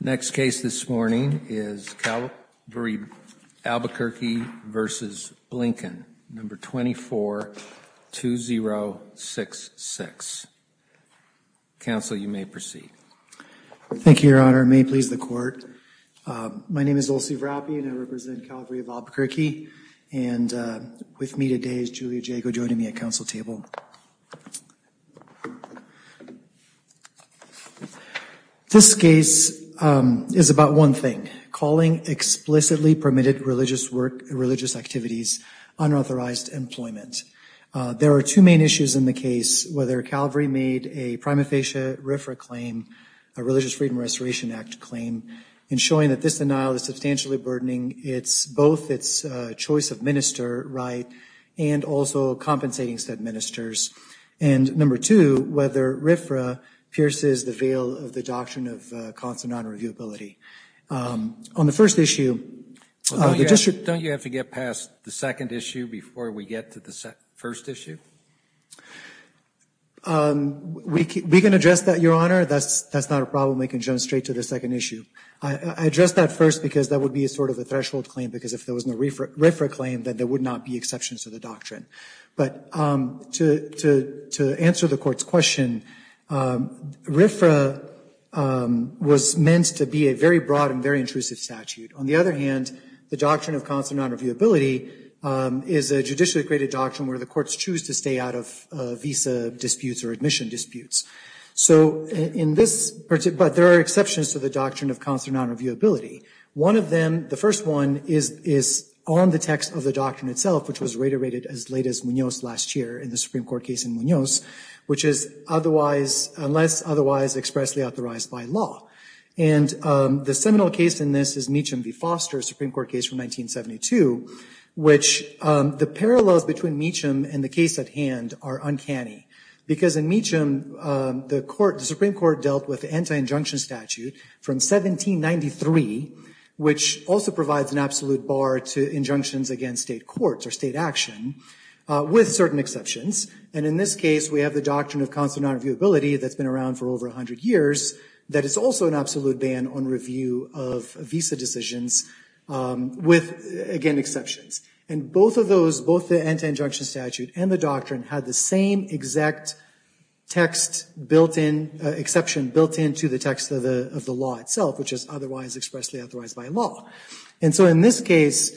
Next case this morning is Calvary Albuquerque v. Blinken, No. 24-2066. Council, you may proceed. Thank you, Your Honor. May it please the Court. My name is Olsi Vrapi, and I represent Calvary of Albuquerque. And with me today is Julia Jago, joining me at Council table. This case is about one thing, calling explicitly permitted religious activities unauthorized employment. There are two main issues in the case, whether Calvary made a prima facie RFRA claim, a Religious Freedom and Restoration Act claim, in showing that this denial is substantially burdening both its choice of minister right and also compensating said ministers, and number two, whether RFRA pierces the veil of the doctrine of constant non-reviewability. On the first issue, the district — Don't you have to get past the second issue before we get to the first issue? We can address that, Your Honor. That's not a problem. We can jump straight to the second issue. I address that first because that would be sort of a threshold claim, because if there was no RFRA claim, then there would not be exceptions to the doctrine. But to answer the court's question, RFRA was meant to be a very broad and very intrusive statute. On the other hand, the doctrine of constant non-reviewability is a judicially graded doctrine where the courts choose to stay out of visa disputes or admission disputes. So in this — but there are exceptions to the doctrine of constant non-reviewability. One of them, the first one, is on the text of the doctrine itself, which was reiterated as late as Munoz last year in the Supreme Court case in Munoz, which is otherwise — unless otherwise expressly authorized by law. And the seminal case in this is Meacham v. Foster, a Supreme Court case from 1972, which the parallels between Meacham and the case at hand are uncanny, because in Meacham, the Supreme Court dealt with anti-injunction statute from 1793, which also provides an absolute bar to injunctions against state courts or state action, with certain exceptions. And in this case, we have the doctrine of constant non-reviewability that's been around for over 100 years, that is also an absolute ban on review of visa decisions, with, again, exceptions. And both of those, both the anti-injunction statute and the doctrine, had the same exact text built in — exception built into the text of the law itself, which is otherwise expressly authorized by law. And so in this case,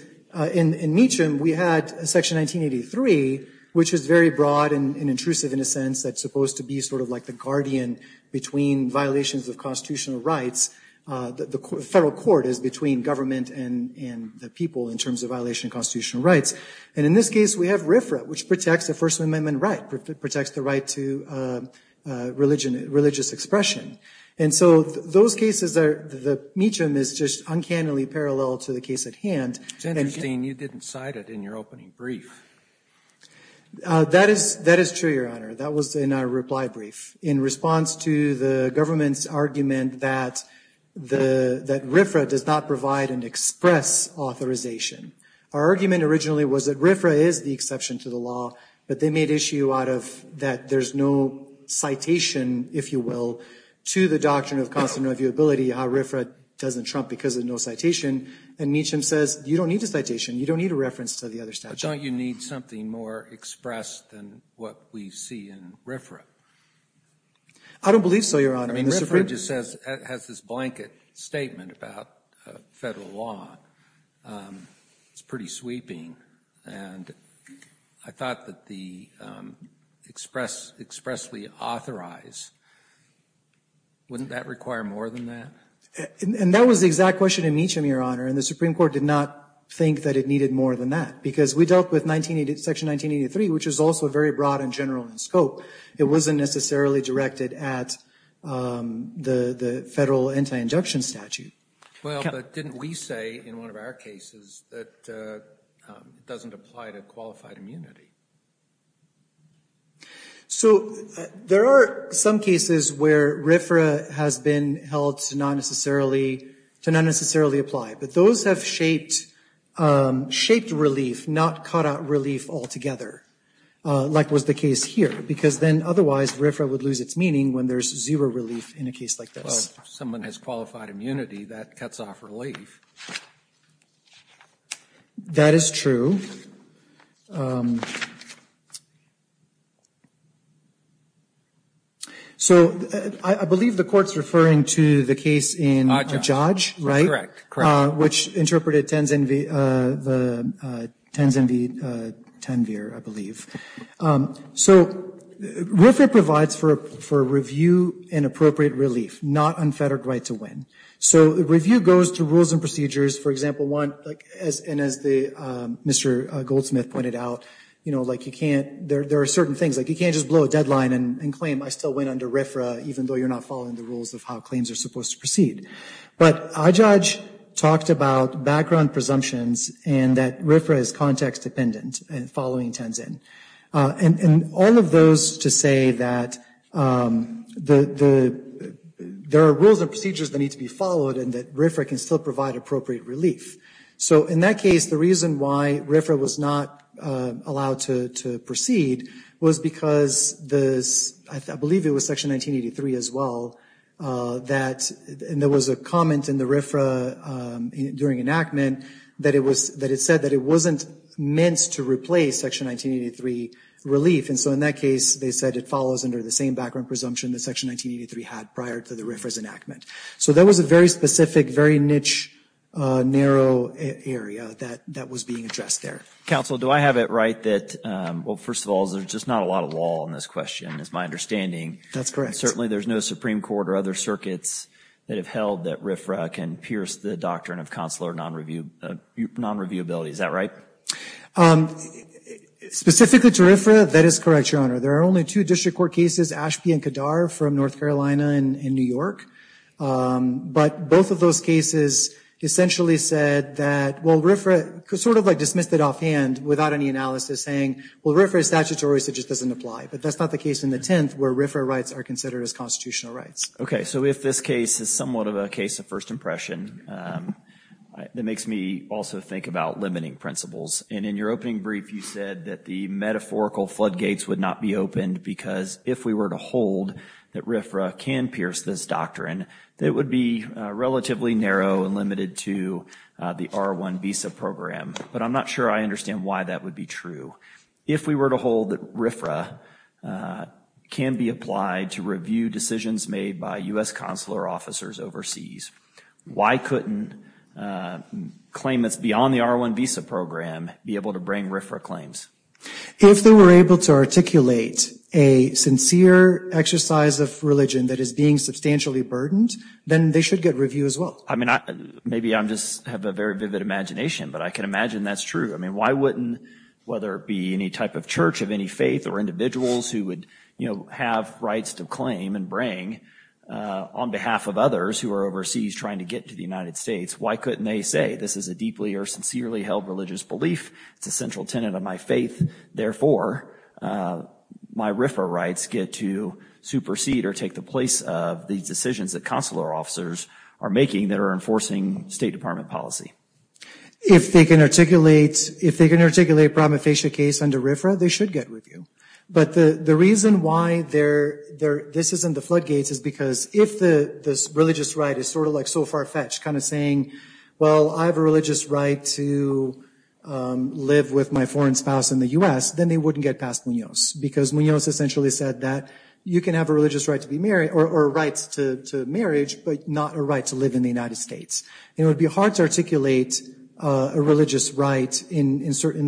in Meacham, we had Section 1983, which is very broad and intrusive in a sense, that's supposed to be sort of like the guardian between violations of constitutional rights. The federal court is between government and the people in terms of violation of constitutional rights. And in this case, we have RFRA, which protects the First Amendment right, protects the right to religious expression. And so those cases are — Meacham is just uncannily parallel to the case at hand. It's interesting you didn't cite it in your opening brief. That is true, Your Honor. That was in our reply brief. In response to the government's argument that RFRA does not provide an express authorization. Our argument originally was that RFRA is the exception to the law, but they made issue out of that there's no citation, if you will, to the doctrine of constant reviewability, how RFRA doesn't trump because of no citation. And Meacham says, you don't need a citation. You don't need a reference to the other statute. But don't you need something more expressed than what we see in RFRA? I don't believe so, Your Honor. I mean, RFRA just has this blanket statement about federal law. It's pretty sweeping. And I thought that the expressly authorized, wouldn't that require more than that? And that was the exact question in Meacham, Your Honor. And the Supreme Court did not think that it needed more than that. Because we dealt with Section 1983, which is also very broad and general in scope. It wasn't necessarily directed at the federal anti-injection statute. Well, but didn't we say in one of our cases that it doesn't apply to qualified immunity? So there are some cases where RFRA has been held to not necessarily apply. But those have shaped relief, not cut out relief altogether, like was the case here. Because then otherwise, RFRA would lose its meaning when there's zero relief in a case like this. Well, if someone has qualified immunity, that cuts off relief. That is true. So I believe the Court's referring to the case in Ajaj, right? Correct, correct. Which interpreted Tanvir, I believe. So RFRA provides for review and appropriate relief, not unfettered right to win. So review goes to rules and procedures. For example, one, and as Mr. Goldsmith pointed out, you know, like you can't, there are certain things. Like you can't just blow a deadline and claim I still win under RFRA, even though you're not following the rules of how claims are supposed to proceed. But Ajaj talked about background presumptions and that RFRA is context dependent and following Tenzin. And all of those to say that there are rules and procedures that need to be followed and that RFRA can still provide appropriate relief. So in that case, the reason why RFRA was not allowed to proceed was because this, I believe it was Section 1983 as well, that there was a comment in the RFRA during enactment that it said that it wasn't meant to replace Section 1983 relief. And so in that case, they said it follows under the same background presumption that Section 1983 had prior to the RFRA's enactment. So that was a very specific, very niche, narrow area that was being addressed there. Counsel, do I have it right that, well, first of all, there's just not a lot of law in this question is my understanding. That's correct. Certainly there's no Supreme Court or other circuits that have held that RFRA can pierce the doctrine of consular non-reviewability. Is that right? Specifically to RFRA, that is correct, Your Honor. There are only two district court cases, Ashby and Kadar from North Carolina and New York. But both of those cases essentially said that, well, RFRA sort of dismissed it offhand without any analysis, saying, well, RFRA is statutory, so it just doesn't apply. But that's not the case in the 10th where RFRA rights are considered as constitutional rights. Okay, so if this case is somewhat of a case of first impression, that makes me also think about limiting principles. And in your opening brief, you said that the metaphorical floodgates would not be opened because if we were to hold that RFRA can pierce this doctrine, that it would be relatively narrow and limited to the R1 visa program. But I'm not sure I understand why that would be true. If we were to hold that RFRA can be applied to review decisions made by U.S. consular officers overseas, why couldn't claimants beyond the R1 visa program be able to bring RFRA claims? If they were able to articulate a sincere exercise of religion that is being substantially burdened, then they should get review as well. I mean, maybe I just have a very vivid imagination, but I can imagine that's true. I mean, why wouldn't, whether it be any type of church of any faith or individuals who would, you know, have rights to claim and bring on behalf of others who are overseas trying to get to the United States, why couldn't they say this is a deeply or sincerely held religious belief? It's a central tenet of my faith. Therefore, my RFRA rights get to supersede or take the place of these decisions that consular officers are making that are enforcing State Department policy. If they can articulate a prima facie case under RFRA, they should get review. But the reason why this isn't the floodgates is because if this religious right is sort of like so far-fetched, kind of saying, well, I have a religious right to live with my foreign spouse in the U.S., then they wouldn't get past Munoz because Munoz essentially said that you can have a religious right to be married or rights to marriage, but not a right to live in the United States. It would be hard to articulate a religious right in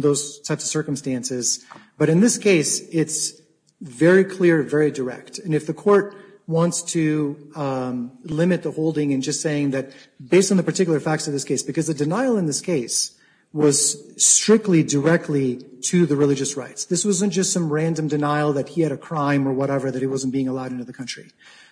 those types of circumstances. But in this case, it's very clear, very direct. And if the court wants to limit the holding and just saying that based on the particular facts of this case, because the denial in this case was strictly directly to the religious rights. This wasn't just some random denial that he had a crime or whatever, that he wasn't being allowed into the country.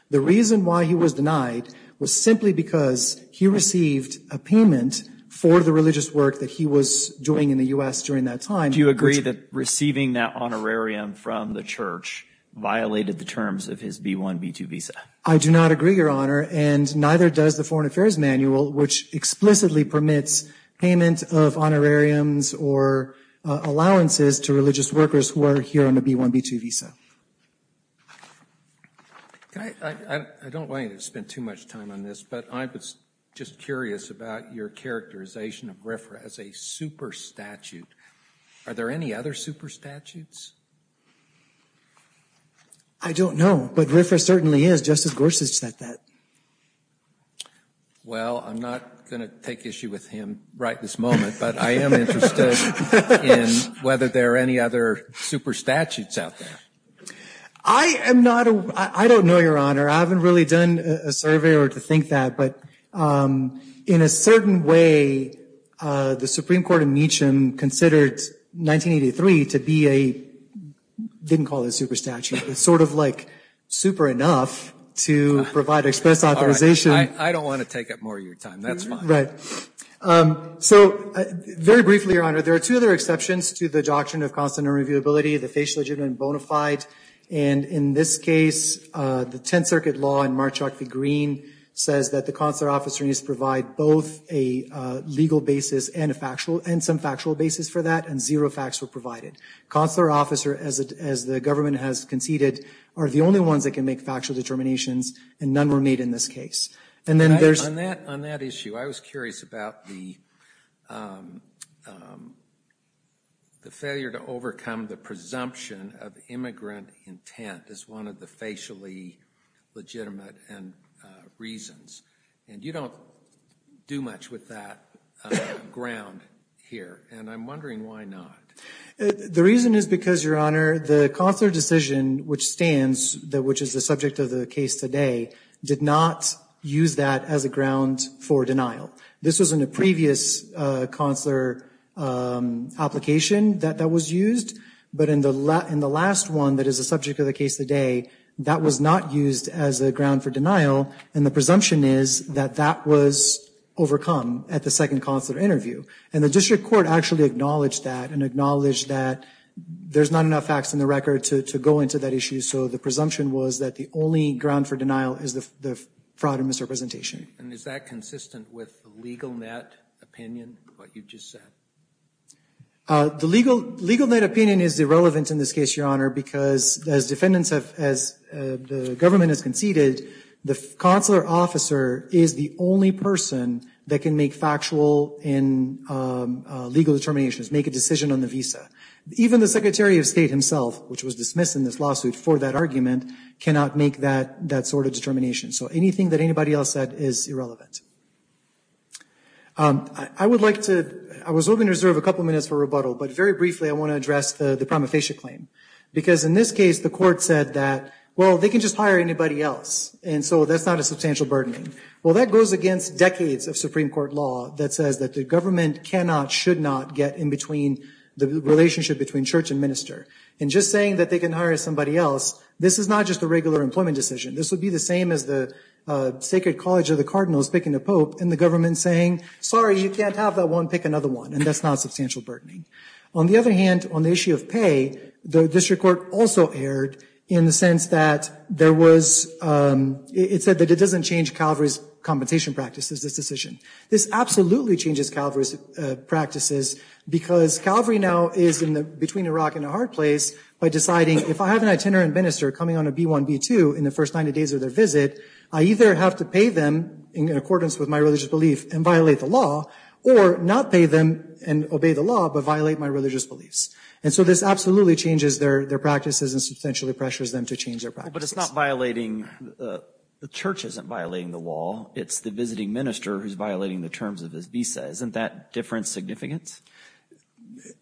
The reason why he was denied was simply because he received a payment for the religious work that he was doing in the U.S. during that time. Do you agree that receiving that honorarium from the church violated the terms of his B-1, B-2 visa? I do not agree, Your Honor, and neither does the Foreign Affairs Manual, which explicitly permits payment of honorariums or allowances to religious workers who are here on a B-1, B-2 visa. I don't want you to spend too much time on this, but I was just curious about your characterization of RFRA as a super statute. Are there any other super statutes? I don't know, but RFRA certainly is. Justice Gorsuch said that. Well, I'm not going to take issue with him right this moment, but I am interested in whether there are any other super statutes out there. I am not a – I don't know, Your Honor. I haven't really done a survey or to think that, but in a certain way, the Supreme Court in Meacham considered 1983 to be a – didn't call it a super statute, but sort of like super enough to provide express authorization. I don't want to take up more of your time. That's fine. Right. So, very briefly, Your Honor, there are two other exceptions to the doctrine of constant and reviewability, the facially legitimate and bona fide. And in this case, the Tenth Circuit law in Mark Chalk v. Green says that the consular officer needs to provide both a legal basis and a factual – and some factual basis for that, and zero facts were provided. Consular officer, as the government has conceded, are the only ones that can make factual determinations, and none were made in this case. On that issue, I was curious about the failure to overcome the presumption of immigrant intent as one of the facially legitimate reasons. And you don't do much with that ground here, and I'm wondering why not. The reason is because, Your Honor, the consular decision which stands, which is the subject of the case today, did not use that as a ground for denial. This was in a previous consular application that that was used, but in the last one that is the subject of the case today, that was not used as a ground for denial, and the presumption is that that was overcome at the second consular interview. And the district court actually acknowledged that and acknowledged that there's not enough facts in the record to go into that issue, so the presumption was that the only ground for denial is the fraud and misrepresentation. And is that consistent with the legal net opinion of what you just said? The legal net opinion is irrelevant in this case, Your Honor, because as defendants have, as the government has conceded, the consular officer is the only person that can make factual and legal determinations, make a decision on the visa. Even the Secretary of State himself, which was dismissed in this lawsuit for that argument, cannot make that sort of determination. So anything that anybody else said is irrelevant. I would like to, I was hoping to reserve a couple minutes for rebuttal, but very briefly I want to address the prima facie claim. Because in this case the court said that, well, they can just hire anybody else, and so that's not a substantial burden. Well, that goes against decades of Supreme Court law that says that the government cannot, should not get in between the relationship between church and minister. And just saying that they can hire somebody else, this is not just a regular employment decision. This would be the same as the Sacred College of the Cardinals picking a pope and the government saying, sorry, you can't have that one, pick another one. And that's not substantial burdening. On the other hand, on the issue of pay, the district court also erred in the sense that there was, it said that it doesn't change Calvary's compensation practices, this decision. This absolutely changes Calvary's practices because Calvary now is between a rock and a hard place by deciding if I have an itinerant minister coming on a B1, B2 in the first 90 days of their visit, I either have to pay them in accordance with my religious belief and violate the law, or not pay them and obey the law but violate my religious beliefs. And so this absolutely changes their practices and substantially pressures them to change their practices. But it's not violating, the church isn't violating the law. It's the visiting minister who's violating the terms of his visa. Isn't that different significance?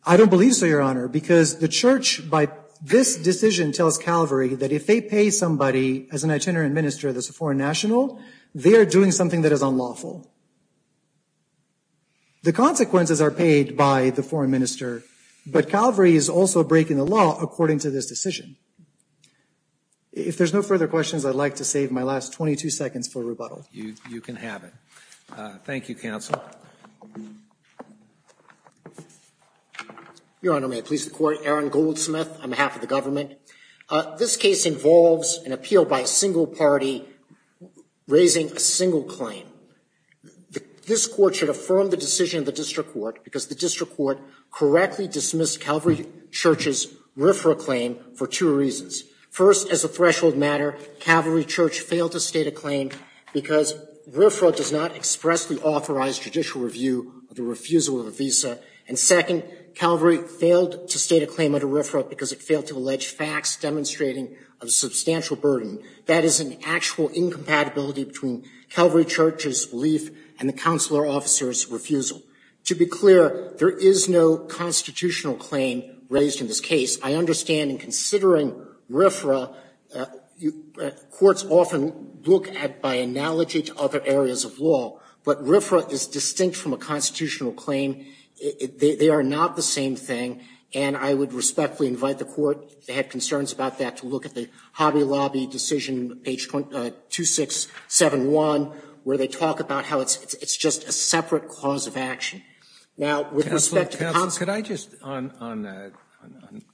I don't believe so, Your Honor, because the church by this decision tells Calvary that if they pay somebody as an itinerant minister that's a foreign national, they are doing something that is unlawful. The consequences are paid by the foreign minister, but Calvary is also breaking the law according to this decision. If there's no further questions, I'd like to save my last 22 seconds for rebuttal. You can have it. Thank you, counsel. Your Honor, may I please the court? Aaron Goldsmith on behalf of the government. This case involves an appeal by a single party raising a single claim. This court should affirm the decision of the district court because the district court correctly dismissed Calvary Church's RFRA claim for two reasons. First, as a threshold matter, Calvary Church failed to state a claim because RFRA does not expressly authorize judicial review of the refusal of a visa. And second, Calvary failed to state a claim under RFRA because it failed to allege facts demonstrating a substantial burden. That is an actual incompatibility between Calvary Church's belief and the counselor officer's refusal. To be clear, there is no constitutional claim raised in this case. I understand in considering RFRA, courts often look at it by analogy to other areas of law, but RFRA is distinct from a constitutional claim. They are not the same thing, and I would respectfully invite the court, if they have concerns about that, to look at the Hobby Lobby decision, page 2671, where they talk about how it's just a separate cause of action. Now, with respect to counselor... Counselor, could I just, on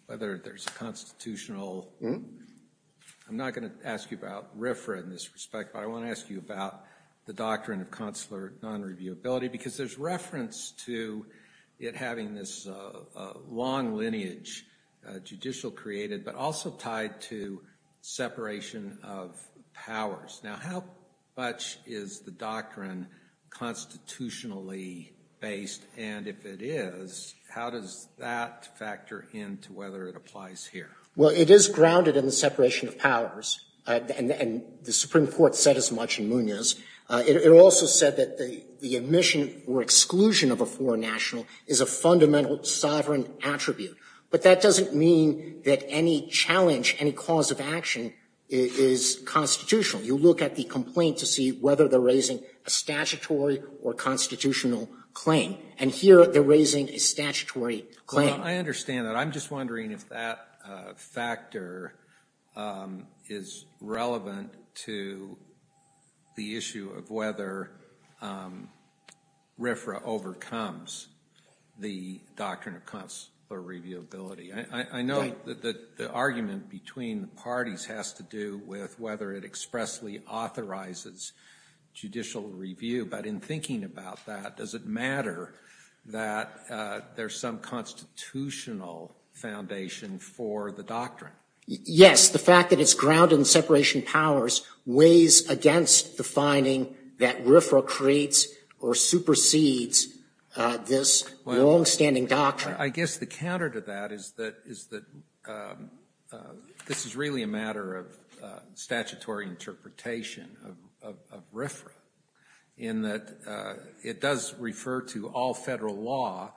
whether there's a constitutional... I'm not going to ask you about RFRA in this respect, but I want to ask you about the doctrine of counselor non-reviewability because there's reference to it having this long lineage, judicial created but also tied to separation of powers. Now, how much is the doctrine constitutionally based, and if it is, how does that factor into whether it applies here? Well, it is grounded in the separation of powers, and the Supreme Court said as much in Munoz. It also said that the admission or exclusion of a foreign national is a fundamental sovereign attribute, but that doesn't mean that any challenge, any cause of action is constitutional. You look at the complaint to see whether they're raising a statutory or constitutional claim, and here they're raising a statutory claim. I understand that. I'm just wondering if that factor is relevant to the issue of whether RFRA overcomes the doctrine of counselor reviewability. I know that the argument between the parties has to do with whether it expressly authorizes judicial review, but in thinking about that, does it matter that there's some constitutional foundation for the doctrine? Yes, the fact that it's grounded in separation of powers weighs against the finding that RFRA creates or supersedes this longstanding doctrine. I guess the counter to that is that this is really a matter of statutory interpretation of RFRA in that it does refer to all federal law,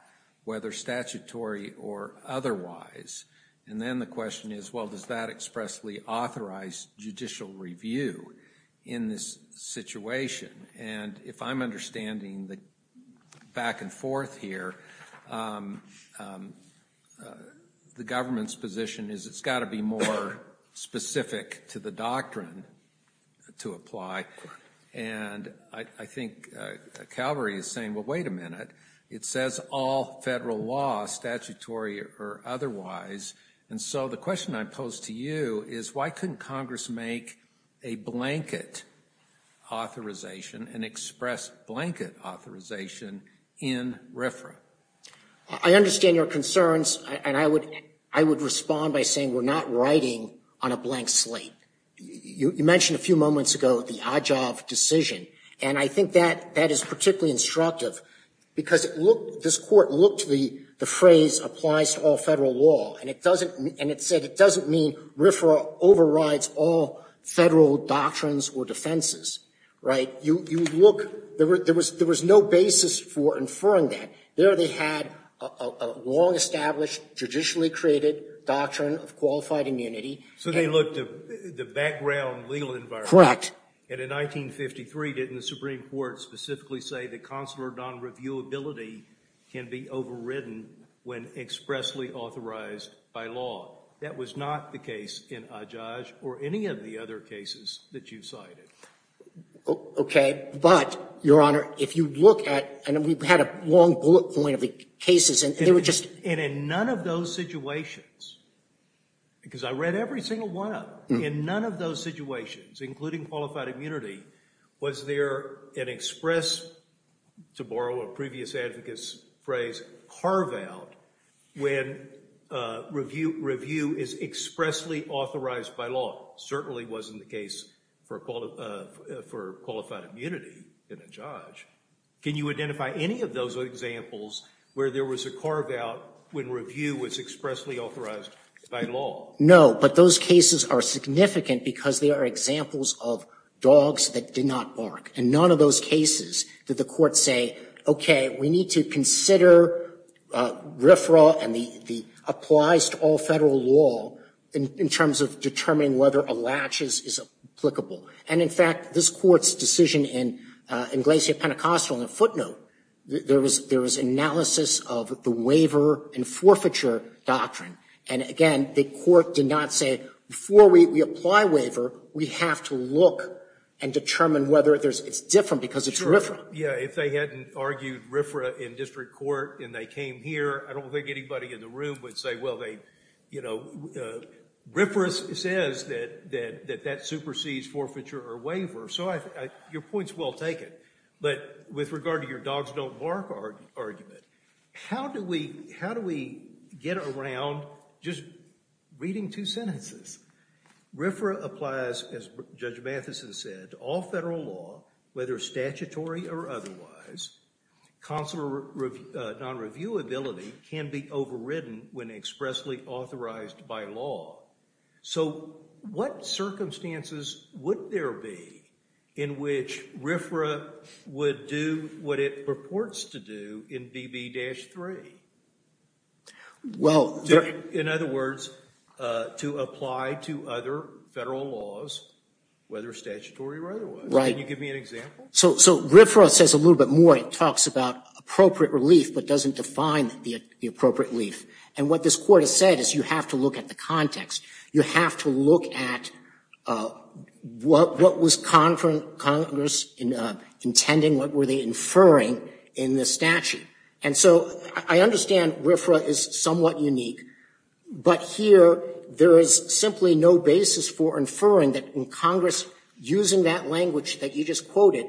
whether statutory or otherwise, and then the question is, well, does that expressly authorize judicial review in this situation? And if I'm understanding the back and forth here, the government's position is it's got to be more specific to the doctrine to apply, and I think Calvary is saying, well, wait a minute. It says all federal law, statutory or otherwise, And so the question I pose to you is why couldn't Congress make a blanket authorization, an express blanket authorization in RFRA? I understand your concerns, and I would respond by saying we're not writing on a blank slate. You mentioned a few moments ago the Ajav decision, and I think that is particularly instructive because this Court looked to the phrase applies to all federal law, and it said it doesn't mean RFRA overrides all federal doctrines or defenses. Right? You look. There was no basis for inferring that. There they had a long-established, judicially created doctrine of qualified immunity. So they looked at the background legal environment. Correct. And in 1953, didn't the Supreme Court specifically say that consular non-reviewability can be overridden when expressly authorized by law? That was not the case in Ajav or any of the other cases that you cited. Okay. But, Your Honor, if you look at, and we've had a long bullet point of the cases, and they were just And in none of those situations, because I read every single one of them, in none of those situations, including qualified immunity, was there an express, to borrow a previous advocate's phrase, carve-out when review is expressly authorized by law? Certainly wasn't the case for qualified immunity in Ajav. Can you identify any of those examples where there was a carve-out when review was expressly authorized by law? No. But those cases are significant because they are examples of dogs that did not bark. In none of those cases did the court say, okay, we need to consider RFRA and the applies to all federal law in terms of determining whether a latch is applicable. And, in fact, this Court's decision in Iglesia Pentecostal, in a footnote, there was analysis of the waiver and forfeiture doctrine. And, again, the court did not say, before we apply waiver, we have to look and determine whether it's different because it's RFRA. Yeah, if they hadn't argued RFRA in district court and they came here, I don't think anybody in the room would say, well, they, you know, RFRA says that that supersedes forfeiture or waiver. So your point is well taken. But with regard to your dogs don't bark argument, how do we get around just reading two sentences? RFRA applies, as Judge Matheson said, to all federal law, whether statutory or otherwise. Consular non-reviewability can be overridden when expressly authorized by law. So what circumstances would there be in which RFRA would do what it purports to do in BB-3? In other words, to apply to other federal laws, whether statutory or otherwise. Right. Can you give me an example? So RFRA says a little bit more. It talks about appropriate relief but doesn't define the appropriate relief. And what this Court has said is you have to look at the context. You have to look at what was Congress intending, what were they inferring in the statute. And so I understand RFRA is somewhat unique. But here there is simply no basis for inferring that Congress, using that language that you just quoted,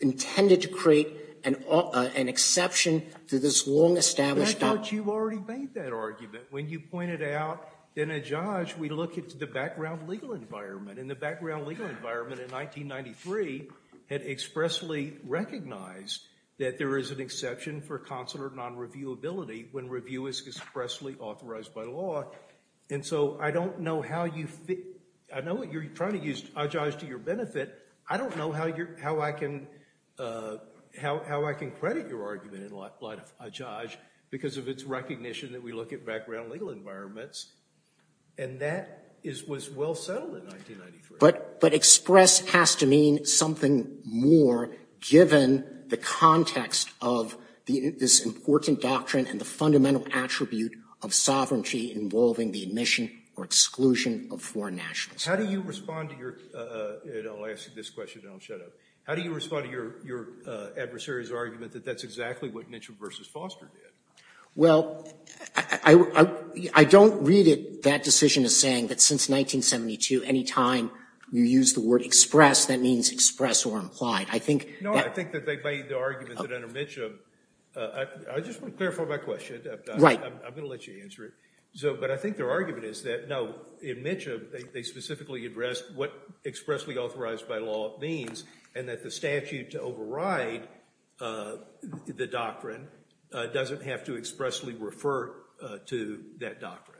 intended to create an exception to this long-established argument. I thought you already made that argument when you pointed out in a judge we look at the background legal environment. And the background legal environment in 1993 had expressly recognized that there is an exception for consular non-reviewability when review is expressly authorized by law. And so I don't know how you fit. I know what you're trying to use adjudge to your benefit. I don't know how I can credit your argument in light of adjudge because of its recognition that we look at background legal environments. And that was well settled in 1993. But express has to mean something more given the context of this important doctrine and the fundamental attribute of sovereignty involving the admission or exclusion of foreign nationals. How do you respond to your, and I'll ask you this question and I'll shut up, how do you respond to your adversary's argument that that's exactly what Mitchell v. Foster did? Well, I don't read it that decision as saying that since 1972 any time you use the word express that means express or implied. I think that No, I think that they made the argument that under Mitchell. I just want to clarify my question. Right. I'm going to let you answer it. But I think their argument is that no, in Mitchell they specifically addressed what expressly authorized by law means and that the statute to override the doctrine doesn't have to expressly refer to that doctrine.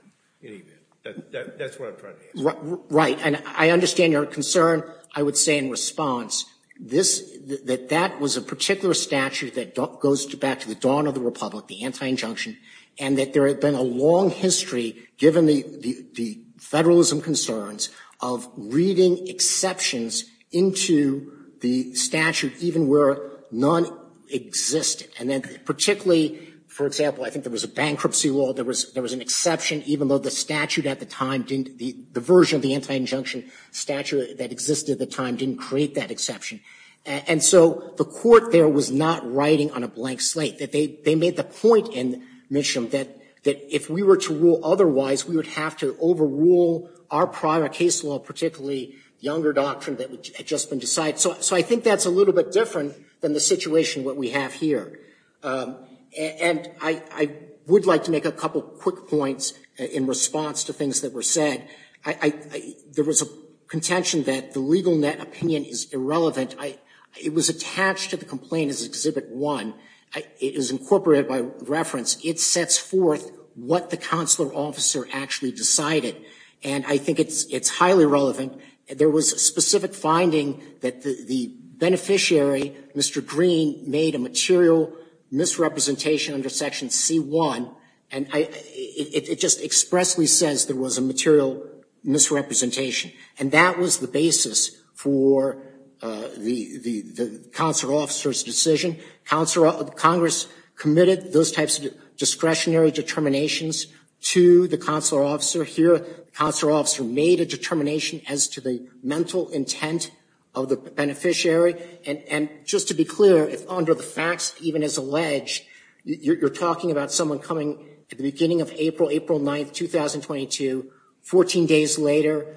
That's what I'm trying to answer. Right. And I understand your concern. I would say in response that that was a particular statute that goes back to the dawn of the republic, the anti-injunction, and that there had been a long history given the federalism concerns of reading exceptions into the statute even where none existed. And then particularly, for example, I think there was a bankruptcy law. There was an exception even though the statute at the time didn't, the version of the anti-injunction statute that existed at the time didn't create that exception. And so the court there was not writing on a blank slate. They made the point in Mitchell that if we were to rule otherwise we would have to overrule our prior case law, particularly younger doctrine that had just been decided. So I think that's a little bit different than the situation what we have here. And I would like to make a couple quick points in response to things that were said. There was a contention that the legal net opinion is irrelevant. It was attached to the complaint as Exhibit 1. It is incorporated by reference. It sets forth what the consular officer actually decided. And I think it's highly relevant. There was a specific finding that the beneficiary, Mr. Green, made a material misrepresentation under Section C1. And it just expressly says there was a material misrepresentation. And that was the basis for the consular officer's decision. Congress committed those types of discretionary determinations to the consular officer. Here, the consular officer made a determination as to the mental intent of the beneficiary. And just to be clear, under the facts, even as alleged, you're talking about someone coming at the beginning of April, April 9, 2022, 14 days later,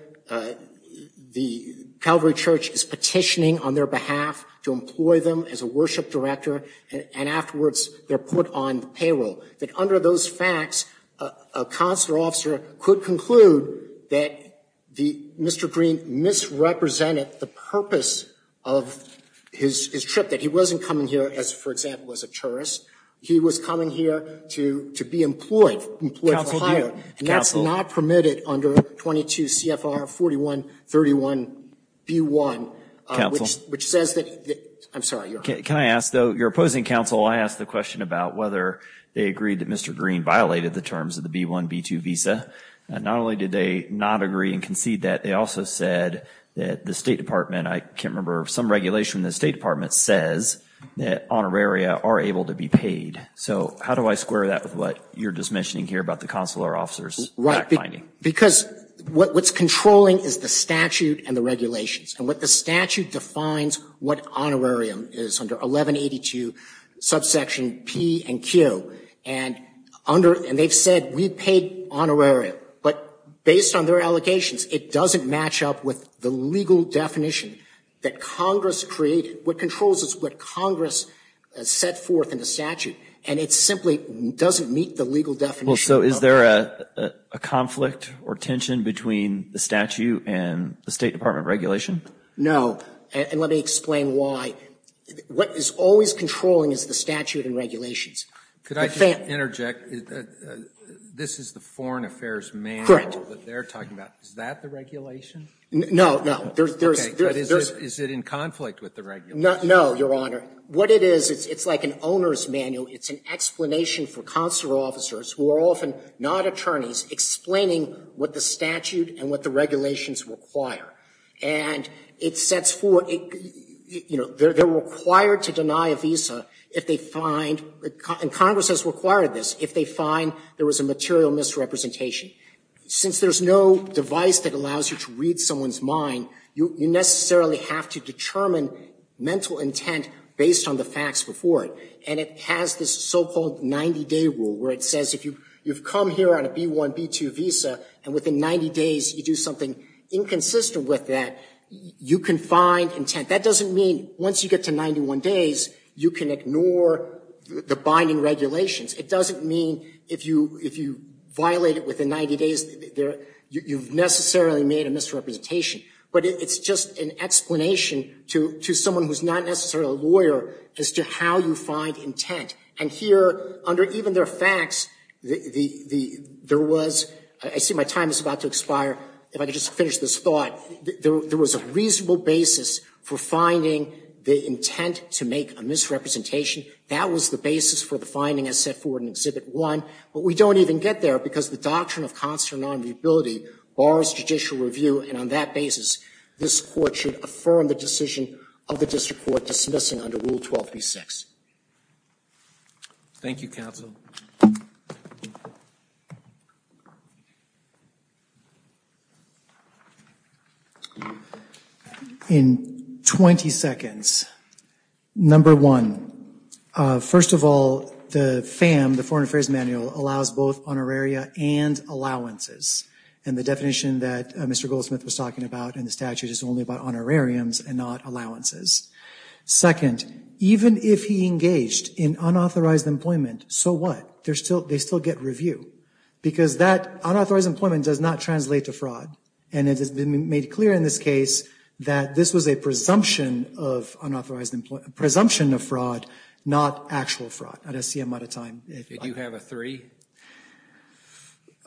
the Calvary Church is petitioning on their behalf to employ them as a worship director, and afterwards they're put on payroll. That under those facts, a consular officer could conclude that Mr. Green misrepresented the purpose of his trip, that he wasn't coming here, for example, as a tourist. He was coming here to be employed, employed for hire. And that's not permitted under 22 CFR 4131B1, which says that the – I'm sorry. Can I ask, though, your opposing counsel, I asked the question about whether they agreed that Mr. Green violated the terms of the B1, B2 visa. Not only did they not agree and concede that, they also said that the State Department, I can't remember, some regulation in the State Department says that honoraria are able to be paid. So how do I square that with what you're just mentioning here about the consular officer's fact-finding? Because what's controlling is the statute and the regulations. And what the statute defines what honorarium is under 1182 subsection P and Q. And under – and they've said we paid honorarium. But based on their allegations, it doesn't match up with the legal definition that Congress created. What controls is what Congress set forth in the statute. And it simply doesn't meet the legal definition. Well, so is there a conflict or tension between the statute and the State Department regulation? And let me explain why. What is always controlling is the statute and regulations. Could I interject? This is the Foreign Affairs Manual that they're talking about. Is that the regulation? No, no. Okay. But is it in conflict with the regulations? No, Your Honor. What it is, it's like an owner's manual. It's an explanation for consular officers, who are often not attorneys, explaining what the statute and what the regulations require. And it sets forth – you know, they're required to deny a visa if they find – and Congress has required this – if they find there was a material misrepresentation. Since there's no device that allows you to read someone's mind, you necessarily have to determine mental intent based on the facts before it. And it has this so-called 90-day rule, where it says if you've come here on a visa, and within 90 days you do something inconsistent with that, you can find intent. That doesn't mean once you get to 91 days, you can ignore the binding regulations. It doesn't mean if you violate it within 90 days, you've necessarily made a misrepresentation. But it's just an explanation to someone who's not necessarily a lawyer as to how you find intent. And here, under even their facts, there was – I see my time is about to expire. If I could just finish this thought. There was a reasonable basis for finding the intent to make a misrepresentation. That was the basis for the finding as set forward in Exhibit 1. But we don't even get there, because the doctrine of consular nonviability bars judicial review. And on that basis, this Court should affirm the decision of the district court dismissing under Rule 12b-6. Thank you, counsel. In 20 seconds. Number one, first of all, the FAM, the Foreign Affairs Manual, allows both honoraria and allowances. And the definition that Mr. Goldsmith was talking about in the statute is only about honorariums and not allowances. Second, even if he engaged in unauthorized employment, so what? They still get review. Because that unauthorized employment does not translate to fraud. And it has been made clear in this case that this was a presumption of unauthorized – presumption of fraud, not actual fraud. I don't see I'm out of time. Did you have a three?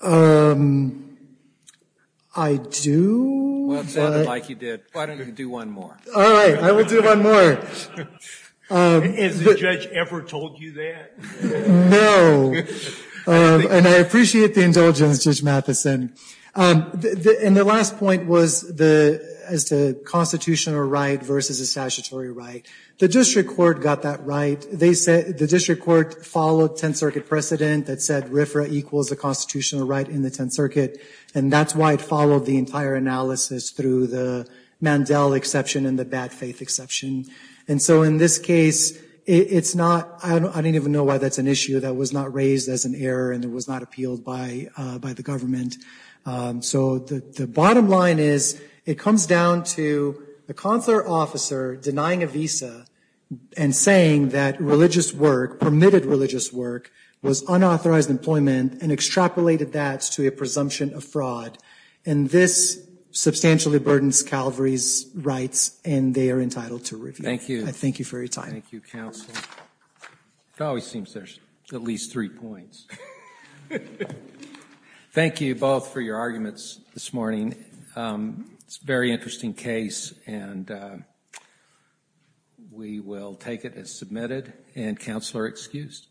I do. Well, it sounded like you did. Why don't you do one more? All right. I will do one more. Has the judge ever told you that? No. And I appreciate the indulgence, Judge Matheson. And the last point was the constitutional right versus a statutory right. The district court got that right. The district court followed Tenth Circuit precedent that said RFRA equals the constitutional right in the Tenth Circuit. And that's why it followed the entire analysis through the Mandel exception and the bad faith exception. And so in this case, it's not – I don't even know why that's an issue that was not raised as an error and it was not appealed by the government. So the bottom line is it comes down to the consular officer denying a visa and saying that religious work, permitted religious work, was unauthorized employment and extrapolated that to a presumption of fraud. And this substantially burdens Calvary's rights and they are entitled to review. Thank you. I thank you for your time. Thank you, counsel. It always seems there's at least three points. Thank you both for your arguments this morning. It's a very interesting case and we will take it as submitted and counsel are excused.